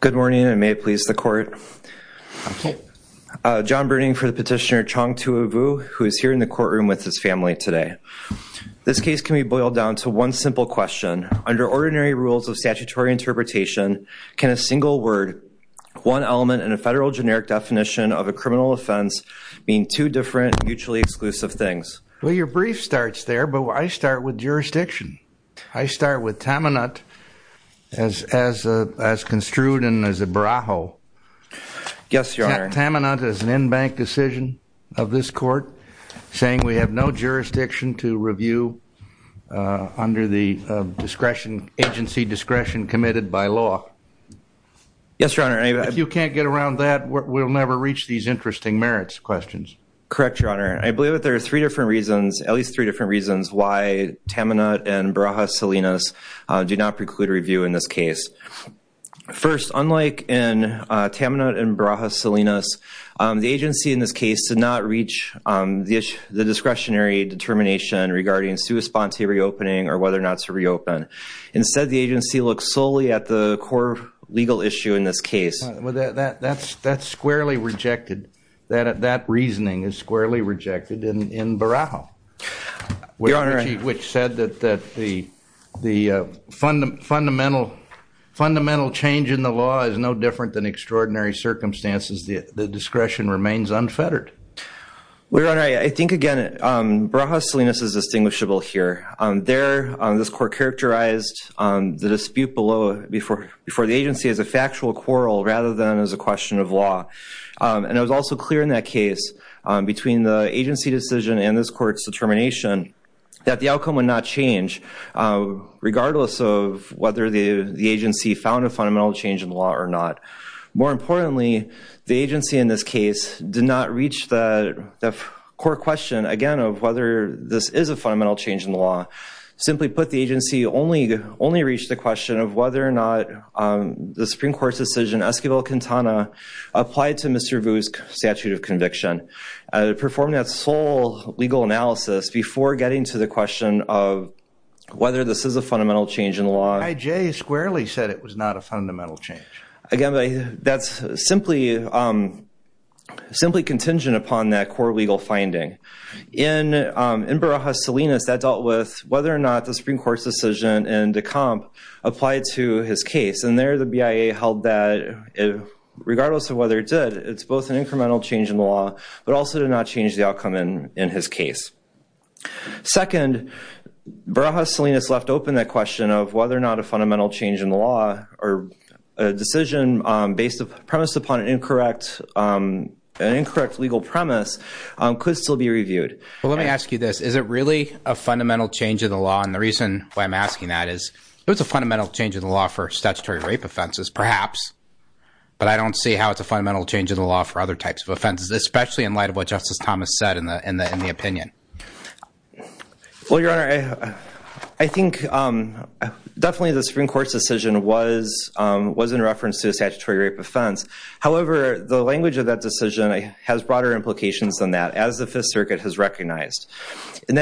Good morning and may it please the court. John Bruning for the petitioner Chong Toua Vue who is here in the courtroom with his family today. This case can be boiled down to one simple question. Under ordinary rules of statutory interpretation can a single word, one element in a federal generic definition of a criminal offense mean two different mutually exclusive things? Well your brief starts there but I start with Taminut as construed and as a Barajo. Taminut is an in-bank decision of this court saying we have no jurisdiction to review under the discretion, agency discretion committed by law. If you can't get around that we'll never reach these interesting merits questions. Correct your honor. I believe that there are three different reasons, at least three different reasons why Taminut and Barajo Salinas do not preclude review in this case. First, unlike in Taminut and Barajo Salinas, the agency in this case did not reach the discretionary determination regarding sui sponte reopening or whether or not to reopen. Instead the agency looks solely at the core legal issue in this case. That's squarely rejected. That reasoning is squarely rejected in Barajo. Which said that the fundamental change in the law is no different than extraordinary circumstances. The discretion remains unfettered. Your honor, I think again Barajo Salinas is distinguishable here. There this court characterized the dispute before the agency as a factual quarrel rather than as a question of law. And it was also clear in that case between the agency decision and this court's determination that the outcome would not change regardless of whether the agency found a fundamental change in the law or not. More importantly, the agency in this case did not reach the core question again of whether this is a fundamental change in the law. Simply put the agency only reached the question of whether or not the Supreme Court's decision Esquivel-Quintana applied to Mr. Vu's statute of conviction. Performed that sole legal analysis before getting to the question of whether this is a fundamental change in the law. I.J. squarely said it was not a fundamental change. Again that's simply contingent upon that core legal finding. In Barajo Salinas that dealt with whether or not the Supreme Court's decision in Decomp applied to his case. And there the BIA held that regardless of whether it did, it's both an incremental change in the law but also did not change the outcome in his case. Second, Barajo Salinas left open that question of whether or not a fundamental change in the law or a decision based upon an incorrect legal premise could still be reviewed. Let me ask you this. Is it really a fundamental change in the law? And the reason why I'm asking that is it was a fundamental change in the law for statutory rape offenses perhaps. But I don't see how it's a fundamental change in the law for other types of offenses, especially in light of what Justice Thomas said in the opinion. Well, Your Honor, I think definitely the Supreme Court's decision was in reference to a statutory rape offense. However, the language of that decision has broader implications than that as the Fifth Circuit has recognized. And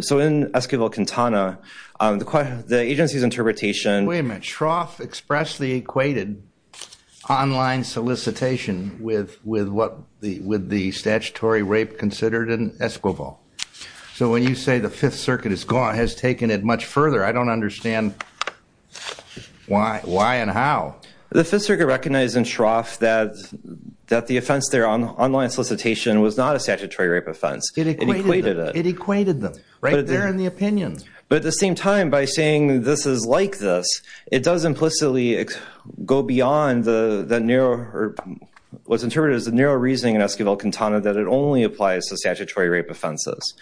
so in Esquivel-Quintana, the agency's interpretation- Wait a minute. Shroff expressed the equated online solicitation with what the statutory rape considered in Esquivel. So when you say the Fifth Circuit has taken it much further, I don't understand why and how. The Fifth Circuit recognized in Shroff that the offense there on online solicitation was not a statutory rape offense. It equated it. It equated them right there in the opinion. But at the same time, by saying this is like this, it does implicitly go beyond what's interpreted as the narrow reasoning in Esquivel-Quintana that it only applies to statutory rape offenses.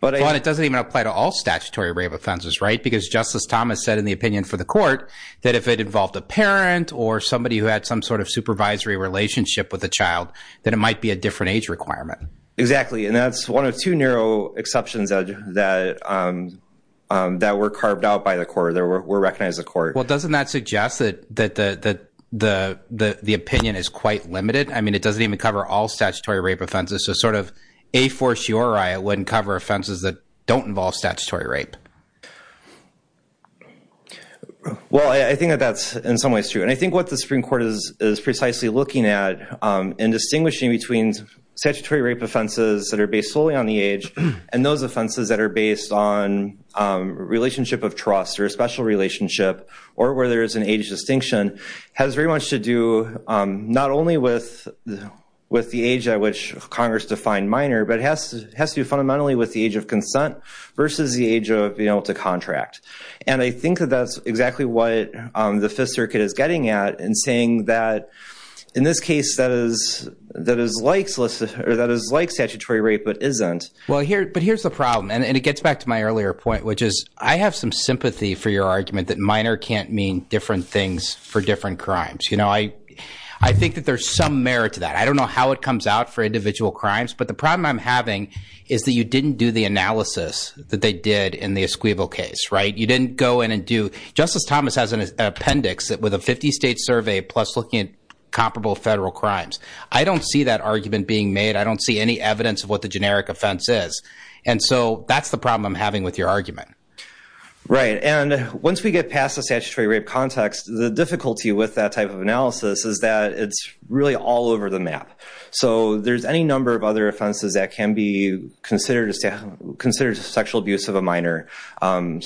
But it doesn't even apply to all statutory rape offenses, right? Because Justice Thomas said in the opinion for the court that if it involved a parent or somebody who had some sort of supervisory relationship with a child, then it might be a different age requirement. Exactly. And that's one of two narrow exceptions that were carved out by the court, that were recognized by the court. Well, doesn't that suggest that the opinion is quite limited? I mean, it doesn't even cover all statutory rape offenses. So sort of a force your eye, it wouldn't cover offenses that don't involve statutory rape. Well, I think that that's in some ways true. And I think what the Supreme Court is precisely looking at in distinguishing between statutory rape offenses that are based solely on the age and those offenses that are based on relationship of trust or a special relationship, or where there is an age distinction, has very much to do not only with the age at which Congress defined minor, but has to do fundamentally with the age of consent versus the age of being able to contract. And I think that that's exactly what the Fifth Circuit is getting at in saying that, in this case, that is like statutory rape, but isn't. Well, but here's the problem. And it gets back to my earlier point, which is I have some sympathy for your argument that minor can't mean different things for different crimes. I think that there's some merit to that. I don't know how it comes out for individual crimes. But the problem I'm having is that you didn't do the analysis that they did in the Esquivo case, right? You didn't go in and do—Justice Thomas has an appendix with a 50-state survey, plus looking at comparable federal crimes. I don't see that argument being made. I don't see any evidence of what the generic offense is. And so that's the problem I'm having with your argument. Right. And once we get past the statutory rape context, the difficulty with that type of analysis is that it's really all over the map. So there's any number of other of a minor. So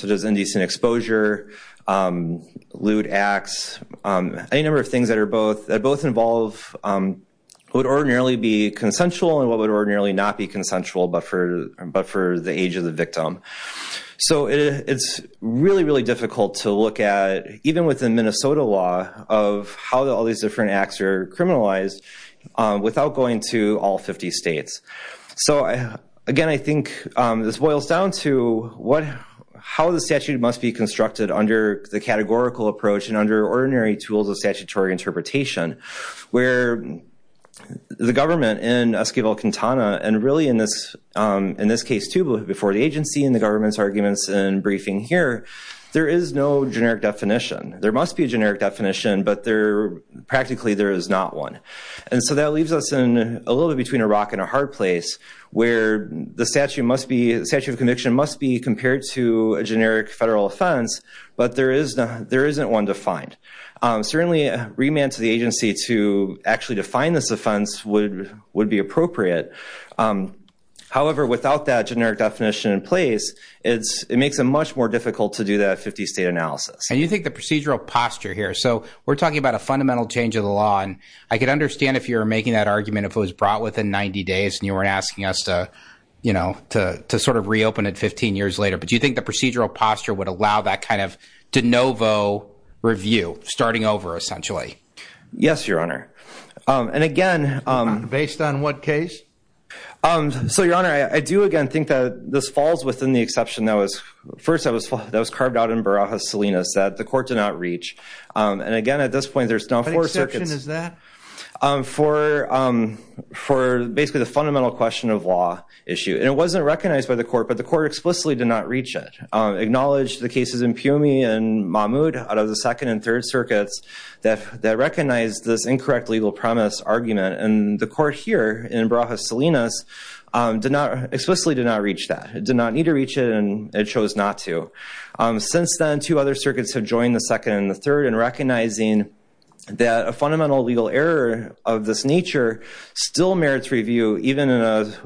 there's indecent exposure, lewd acts, any number of things that are both—that both involve what would ordinarily be consensual and what would ordinarily not be consensual, but for the age of the victim. So it's really, really difficult to look at, even within Minnesota law, of how all these different acts are criminalized without going to all 50 states. So again, I think this boils down to how the statute must be constructed under the categorical approach and under ordinary tools of statutory interpretation, where the government in Esquivel-Quintana, and really in this case, too, before the agency and the government's arguments in briefing here, there is no generic definition. There must be a generic definition, but there—practically, there is not one. And so that leaves us in a little bit between a rock and a hard place, where the statute must be—the statute of conviction must be compared to a generic federal offense, but there is—there isn't one defined. Certainly, remand to the agency to actually define this offense would be appropriate. However, without that generic definition in place, it's—it makes it much more difficult to do that 50-state analysis. And you think the procedural posture here—so we're talking about a fundamental change of the law, and I could understand if you're making that argument if it was brought within 90 days and you weren't asking us to, you know, to sort of reopen it 15 years later, but do you think the procedural posture would allow that kind of de novo review, starting over, essentially? Yes, Your Honor. And again— Based on what case? So, Your Honor, I do, again, think that this falls within the exception that was—first, that was carved out in Barajas-Salinas that the court did not reach. And again, at this point, there's now four circuits— What exception is that? For basically the fundamental question of law issue. And it wasn't recognized by the court, but the court explicitly did not reach it. Acknowledged the cases in Piume and Mahmoud, out of the Second and Third Circuits, that recognized this incorrect legal premise argument, and the court here, in Barajas-Salinas, did not—explicitly did not reach that. It did not reach it, and it chose not to. Since then, two other circuits have joined the Second and the Third in recognizing that a fundamental legal error of this nature still merits review, even in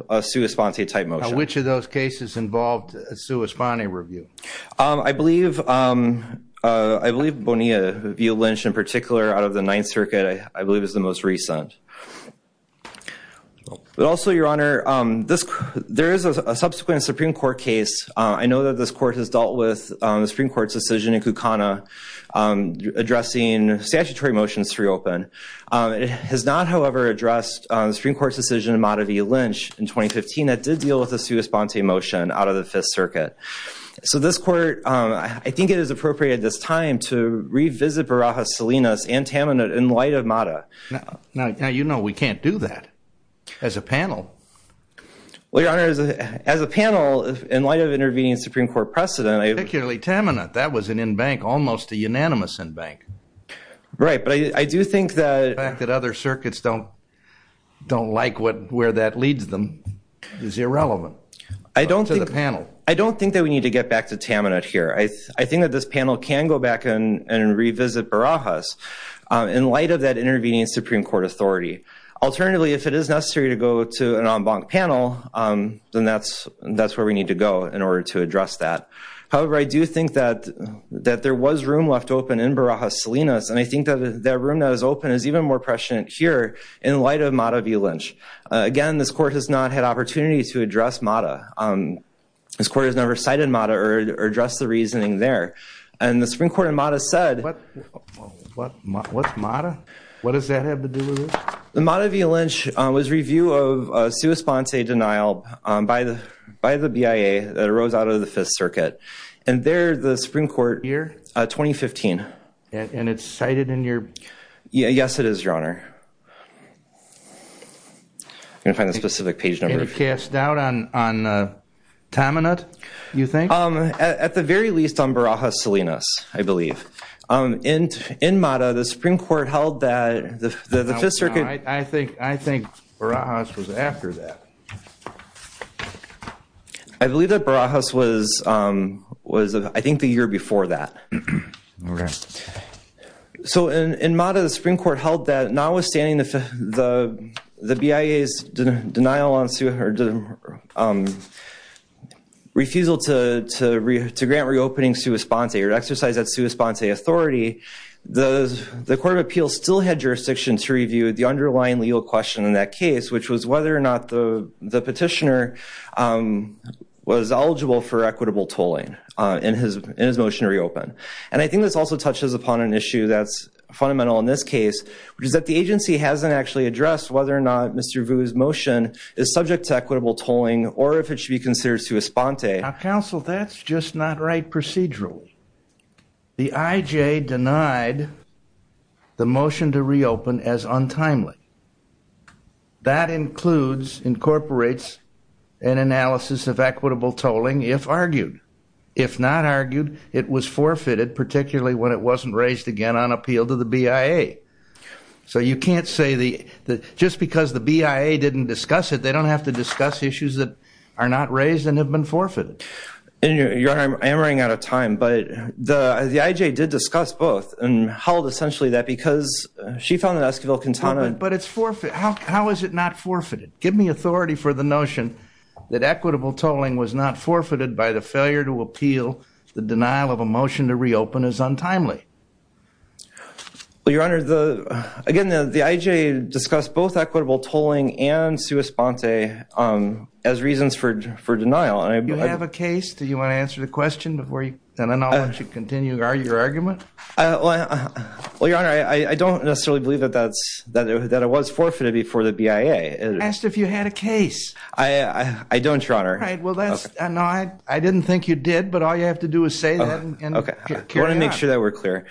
a sua sponte type motion. Now, which of those cases involved a sua sponte review? I believe—I believe Bonilla v. Lynch, in particular, out of the Ninth Circuit, I believe, is the most recent. But also, Your Honor, this—there is a subsequent Supreme Court case. I know that this court has dealt with the Supreme Court's decision in Kukana addressing statutory motions to reopen. It has not, however, addressed the Supreme Court's decision in Mata v. Lynch in 2015 that did deal with a sua sponte motion out of the Fifth Circuit. So this court—I think it is appropriate at this time to revisit Barajas-Salinas and Taminut in light of Mata. Now, you know we can't do that as a panel. Well, Your Honor, as a panel, in light of intervening in Supreme Court precedent— Particularly Taminut. That was an en banc, almost a unanimous en banc. Right. But I do think that the fact that other circuits don't like where that leads them is irrelevant to the panel. I don't think that we need to get back to Taminut here. I think that this panel can go back and revisit Barajas in light of that intervening in Supreme Court authority. Alternatively, if it is necessary to go to an en banc panel, then that's where we need to go in order to address that. However, I do think that there was room left open in Barajas-Salinas, and I think that that room that was open is even more prescient here in light of Mata v. Lynch. Again, this court has not had opportunity to address Mata. This court has never cited Mata or addressed the reasoning there. And the Supreme Court in Mata said— What? What's Mata? What does that have to do with this? The Mata v. Lynch was review of sua sponsae denial by the BIA that arose out of the Fifth Circuit. And there, the Supreme Court— Year? 2015. And it's cited in your— Yes, it is, Your Honor. I'm going to find the specific page number. And it cast doubt on Taminut, you think? At the very least, on Barajas-Salinas, I believe. In Mata, the Supreme Court held that the Fifth Circuit— I think Barajas was after that. I believe that Barajas was, I think, the year before that. Okay. So, in Mata, the Supreme Court held that notwithstanding the BIA's denial on— refusal to grant reopening sua sponsae or exercise that sua sponsae authority, the Court of Appeals still had jurisdiction to review the underlying legal question in that case, which was whether or not the petitioner was eligible for equitable tolling in his motion to reopen. And I think this also touches upon an issue that's fundamental in this case, which is that the agency hasn't actually addressed whether or not Mr. Vu's motion is subject to equitable tolling or if it should be considered sua sponsae. Now, counsel, that's just not right procedurally. The IJ denied the motion to reopen as untimely. That includes—incorporates an analysis of equitable tolling if argued. If not argued, it was forfeited, particularly when it wasn't raised again on appeal to the BIA. So you can't say the—just because the BIA didn't discuss it, they don't have to discuss issues that are not raised and have been forfeited. And you're—I am running out of time, but the IJ did discuss both and held essentially that because she found that Esquivel-Quintana— But it's forfeited. How is it not forfeited? Give me authority for the notion that equitable tolling was not forfeited by the failure to appeal. The denial of a motion to reopen is untimely. Well, Your Honor, the—again, the IJ discussed both equitable tolling and sua sponsae as reasons for denial, and I— Do you have a case? Do you want to answer the question before you—and then I'll let you continue your argument? Well, Your Honor, I don't necessarily believe that that's—that it was forfeited before the BIA. I asked if you had a case. I—I don't, Your Honor. All right. Well, that's—no, I didn't think you did, but all you have to do is say that and carry on. Okay. I want to make sure that we're clear.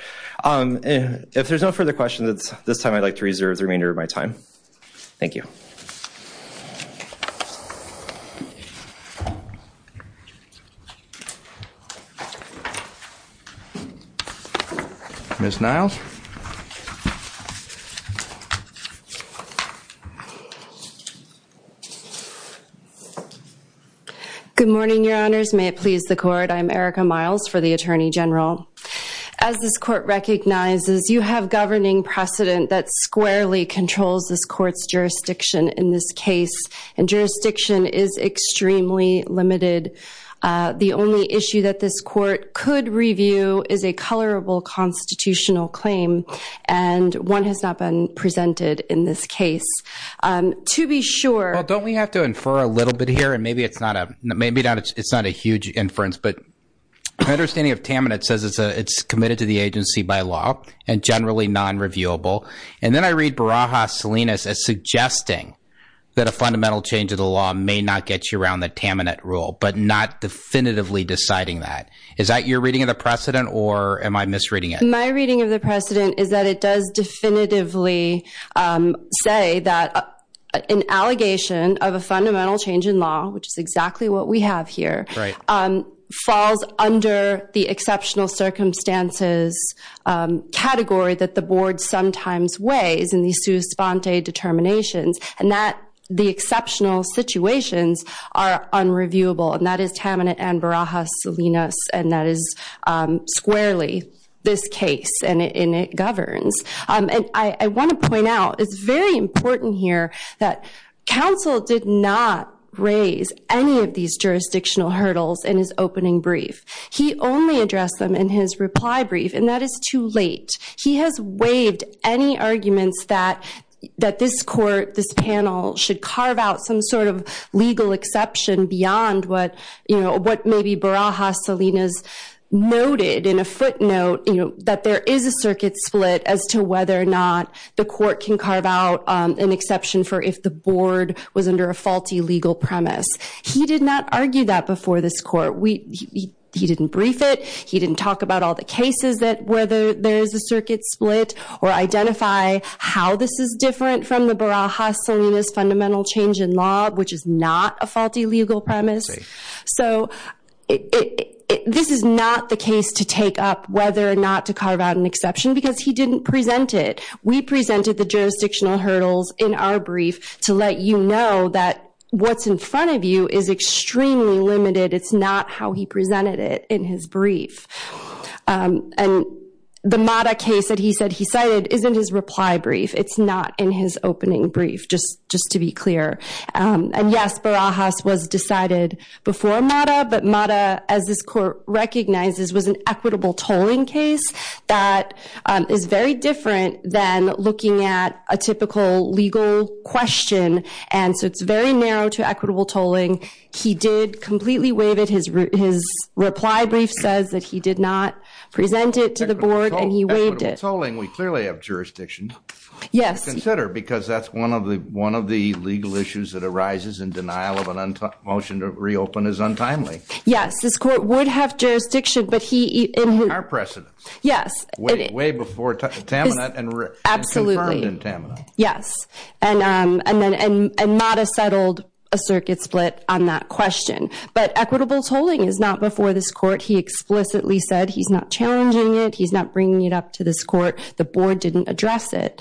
If there's no further questions, this time I'd like to reserve the remainder of my time. Thank you. Ms. Niles? Good morning, Your Honors. May it please the Court. I'm Erica Niles for the Attorney General. As this Court recognizes, you have governing precedent that squarely controls this Court's jurisdiction in this case, and jurisdiction is extremely limited. The only issue that this Court could review is a colorable constitutional claim, and one has not been presented in this case. To be sure— Well, don't we have to infer a little bit here? And maybe it's not a—maybe not—it's not a huge inference, but my understanding of Taminit says it's a—it's committed to the agency by law, and generally non-reviewable. And then I read Baraha-Salinas as suggesting that a fundamental change of the law may not get you around the Taminit rule, but not definitively deciding that. Is that your reading of the precedent, or am I misreading it? My reading of the precedent is that it does definitively say that an allegation of a fundamental change in law, which is exactly what we have here, falls under the exceptional circumstances category that the Board sometimes weighs in these sous-spante determinations, and that the exceptional situations are unreviewable, and that is Taminit and Baraha-Salinas, and that is squarely. This case, and it governs. And I want to point out, it's very important here that counsel did not raise any of these jurisdictional hurdles in his opening brief. He only addressed them in his reply brief, and that is too late. He has waived any arguments that this Court, this panel, should carve out some sort of that there is a circuit split as to whether or not the Court can carve out an exception for if the Board was under a faulty legal premise. He did not argue that before this Court. He didn't brief it. He didn't talk about all the cases that whether there is a circuit split, or identify how this is different from the Baraha-Salinas fundamental change in law, which is not a faulty legal premise. So, this is not the case to take up whether or not to carve out an exception because he didn't present it. We presented the jurisdictional hurdles in our brief to let you know that what's in front of you is extremely limited. It's not how he presented it in his brief. And the Mada case that he said he cited is in his reply brief. It's not in his opening brief, just to be clear. And yes, Barajas was decided before Mada, but Mada, as this Court recognizes, was an equitable tolling case that is very different than looking at a typical legal question. And so, it's very narrow to equitable tolling. He did completely waive it. His reply brief says that he did not present it to the Board, and he waived it. Equitable tolling, we clearly have jurisdiction to consider because that's one of the legal issues that arises in denial of a motion to reopen is untimely. Yes. This Court would have jurisdiction, but he- Our precedence. Yes. Way before Taminat and confirmed in Taminat. Yes, and Mada settled a circuit split on that question. But equitable tolling is not before this Court. He explicitly said he's not challenging it. He's not bringing it up to this Court. The Board didn't address it.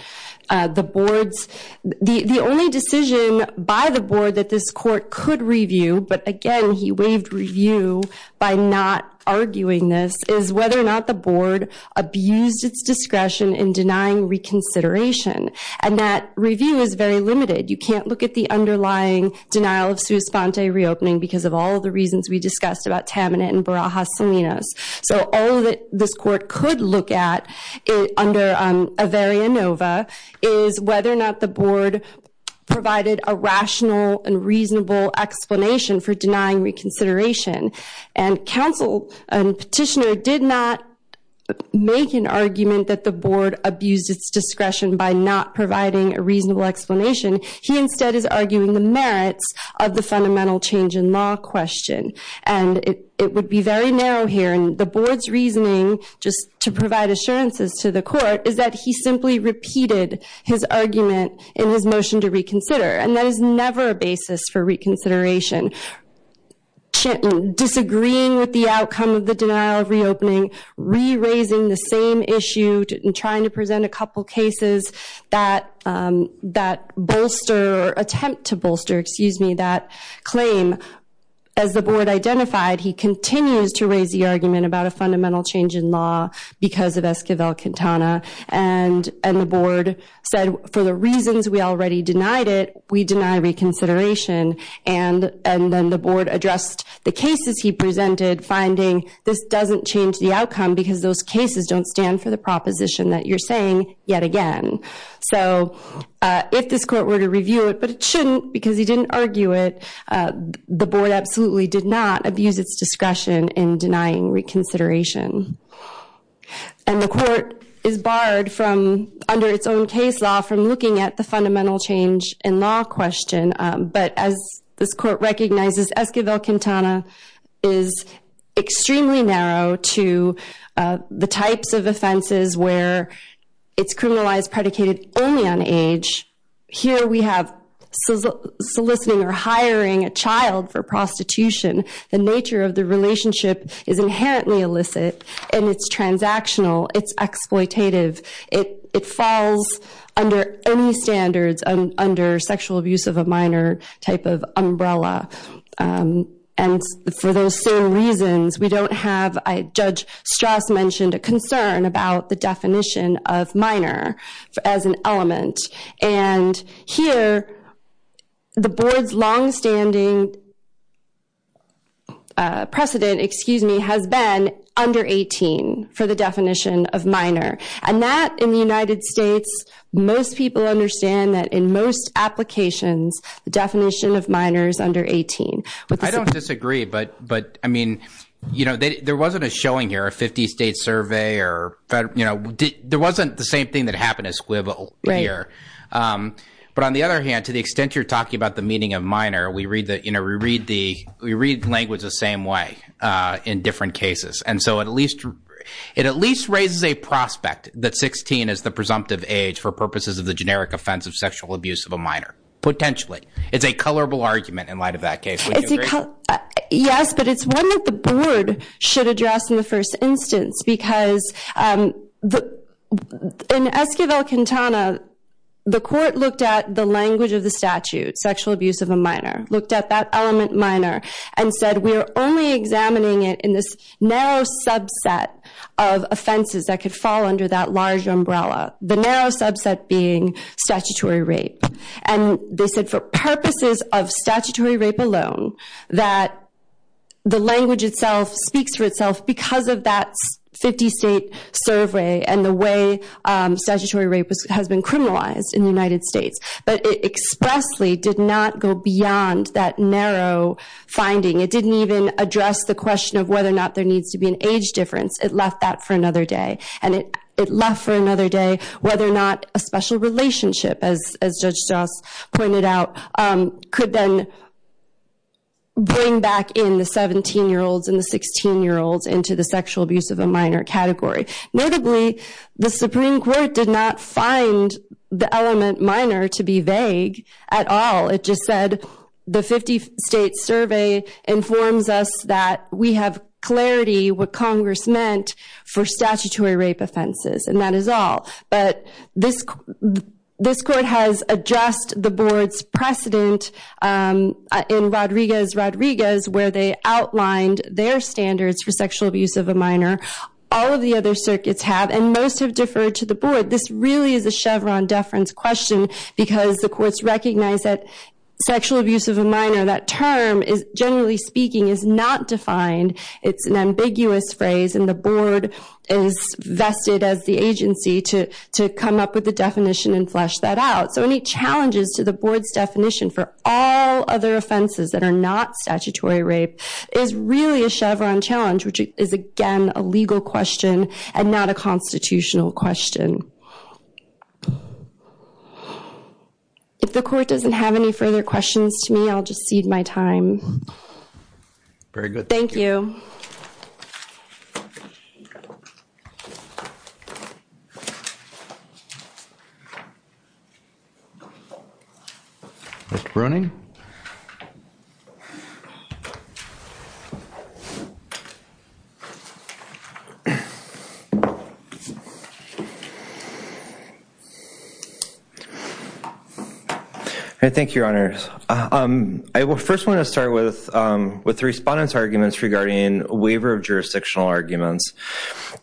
The Board's- The only decision by the Board that this Court could review, but again, he waived review by not arguing this, is whether or not the Board abused its discretion in denying reconsideration. And that review is very limited. You can't look at the underlying denial of sua sponte reopening because of all the reasons we discussed about Taminat and Barajas-Seminos. So all that this Court could look at under Averia Nova is whether or not the Board provided a rational and reasonable explanation for denying reconsideration. And counsel and petitioner did not make an argument that the Board abused its discretion by not providing a reasonable explanation. He instead is arguing the merits of the fundamental change in law question. And it would be very narrow here. And the Board's reasoning, just to provide assurances to the Court, is that he simply repeated his argument in his motion to reconsider. And that is never a basis for reconsideration. Disagreeing with the outcome of the denial of reopening, re-raising the same issue and trying to present a couple cases that bolster or attempt to bolster, excuse me, that claim as the Board identified, he continues to raise the argument about a fundamental change in law because of Esquivel-Quintana. And the Board said, for the reasons we already denied it, we deny reconsideration. And then the Board addressed the cases he presented, finding this doesn't change the outcome because those cases don't stand for the proposition that you're saying yet again. So if this Court were to review it, but it shouldn't because he didn't argue it, the Board absolutely did not abuse its discretion in denying reconsideration. And the Court is barred from, under its own case law, from looking at the fundamental change in law question. But as this Court recognizes, Esquivel-Quintana is extremely narrow to the types of offenses where it's criminalized predicated only on age. Here we have soliciting or hiring a child for prostitution. The nature of the relationship is inherently illicit. And it's transactional. It's exploitative. It falls under any standards under sexual abuse of a minor type of umbrella. And for those same reasons, we don't have, Judge Strauss mentioned, a concern about the definition of minor as an element. And here, the Board's longstanding precedent, excuse me, has been under 18 for the definition of minor. And that, in the United States, most people understand that in most applications, the definition of minor is under 18. I don't disagree. But, I mean, you know, there wasn't a showing here, a 50-state survey or, you know, there wasn't the same thing that happened as Esquivel here. But on the other hand, to the extent you're talking about the meaning of minor, we read language the same way in different cases. And so it at least raises a prospect that 16 is the presumptive age for purposes of the generic offense of sexual abuse of a minor. Potentially. It's a colorable argument in light of that case. Would you agree? Yes, but it's one that the Board should address in the first instance. Because in Esquivel-Quintana, the Court looked at the language of the statute, sexual abuse of a minor, looked at that element minor, and said, we're only examining it in this narrow subset of offenses that could fall under that large umbrella. The narrow subset being statutory rape. And they said for purposes of statutory rape alone, that the language itself speaks for itself because of that 50-state survey and the way statutory rape has been criminalized in the United States. But it expressly did not go beyond that narrow finding. It didn't even address the question of whether or not there needs to be an age difference. It left that for another day. And it left for another day whether or not a special relationship, as Judge Joss pointed out, could then bring back in the 17-year-olds and the 16-year-olds into the sexual abuse of a minor category. Notably, the Supreme Court did not find the element minor to be vague at all. It just said, the 50-state survey informs us that we have clarity what Congress meant for statutory rape offenses. And that is all. But this court has addressed the board's precedent in Rodriguez-Rodriguez, where they outlined their standards for sexual abuse of a minor. All of the other circuits have, and most have deferred to the board. This really is a Chevron deference question because the courts recognize that sexual abuse of a minor, that term, generally speaking, is not defined. It's an ambiguous phrase. And the board is vested as the agency to come up with the definition and flesh that out. So any challenges to the board's definition for all other offenses that are not statutory rape is really a Chevron challenge, which is, again, a legal question and not a constitutional question. If the court doesn't have any further questions to me, I'll just cede my time. Very good. Thank you. Mr. Bruning? Thank you, Your Honors. I first want to start with the respondent's arguments regarding a waiver of jurisdictional arguments.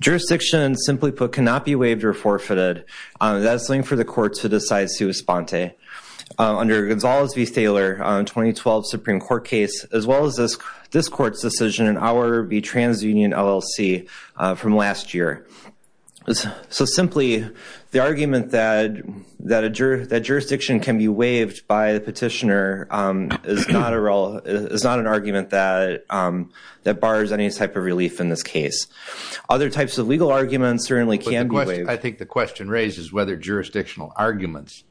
Jurisdiction, simply put, cannot be waived or forfeited. That is something for the court to decide sui sponte. Under Gonzales v. Taylor, 2012 Supreme Court case, as well as this court's decision in our v. TransUnion LLC from last year. So simply, the argument that jurisdiction can be waived by the petitioner is not an argument that bars any type of relief in this case. Other types of legal arguments certainly can be waived. I think the question raised is whether jurisdictional arguments,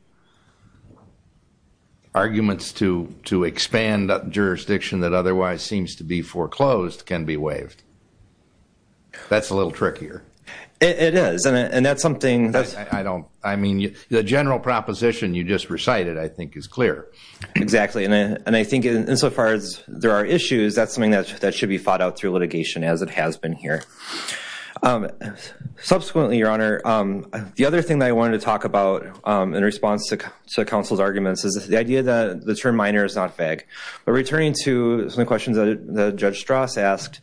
arguments to expand jurisdiction that otherwise seems to be foreclosed, can be waived. That's a little trickier. It is, and that's something that's... I don't... I mean, the general proposition you just recited, I think, is clear. Exactly. And I think insofar as there are issues, that's something that should be fought out through litigation as it has been here. Subsequently, Your Honor, the other thing that I wanted to talk about in response to counsel's arguments is the idea that the term minor is not vague. But returning to some of the questions that Judge Strauss asked,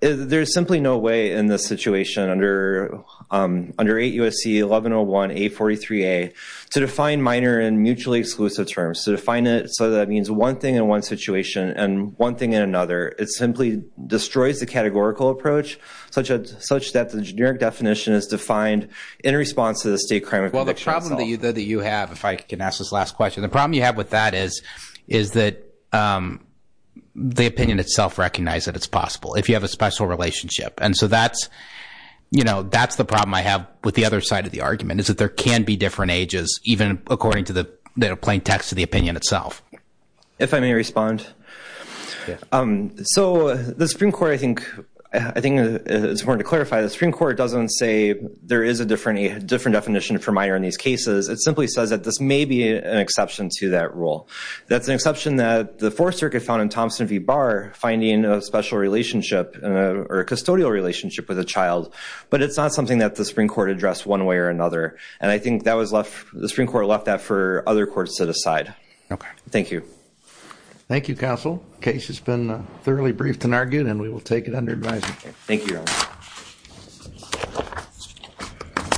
there's simply no way in this situation under 8 U.S.C. 1101A43A to define minor in mutually exclusive terms, to define it so that it means one thing in one situation and one thing in another. It simply destroys the categorical approach such that the generic definition is defined in response to the state crime of conviction itself. Well, the problem that you have, if I can ask this last question, the problem you have with that is that the opinion itself recognizes that it's possible if you have a special relationship. And so that's the problem I have with the other side of the argument, is that there can be different ages, even according to the plain text of the opinion itself. If I may respond. So the Supreme Court, I think it's important to clarify, the Supreme Court doesn't say there is a different definition for minor in these cases. It simply says that this may be an exception to that rule. That's an exception that the Fourth Circuit found in Thompson v. Barr, finding a special relationship or a custodial relationship with a child. But it's not something that the Supreme Court addressed one way or another. And I think that was left, the Supreme Court left that for other courts to decide. OK. Thank you. Thank you, counsel. The case has been thoroughly briefed and argued, and we will take it under advisement. Thank you, Your Honor.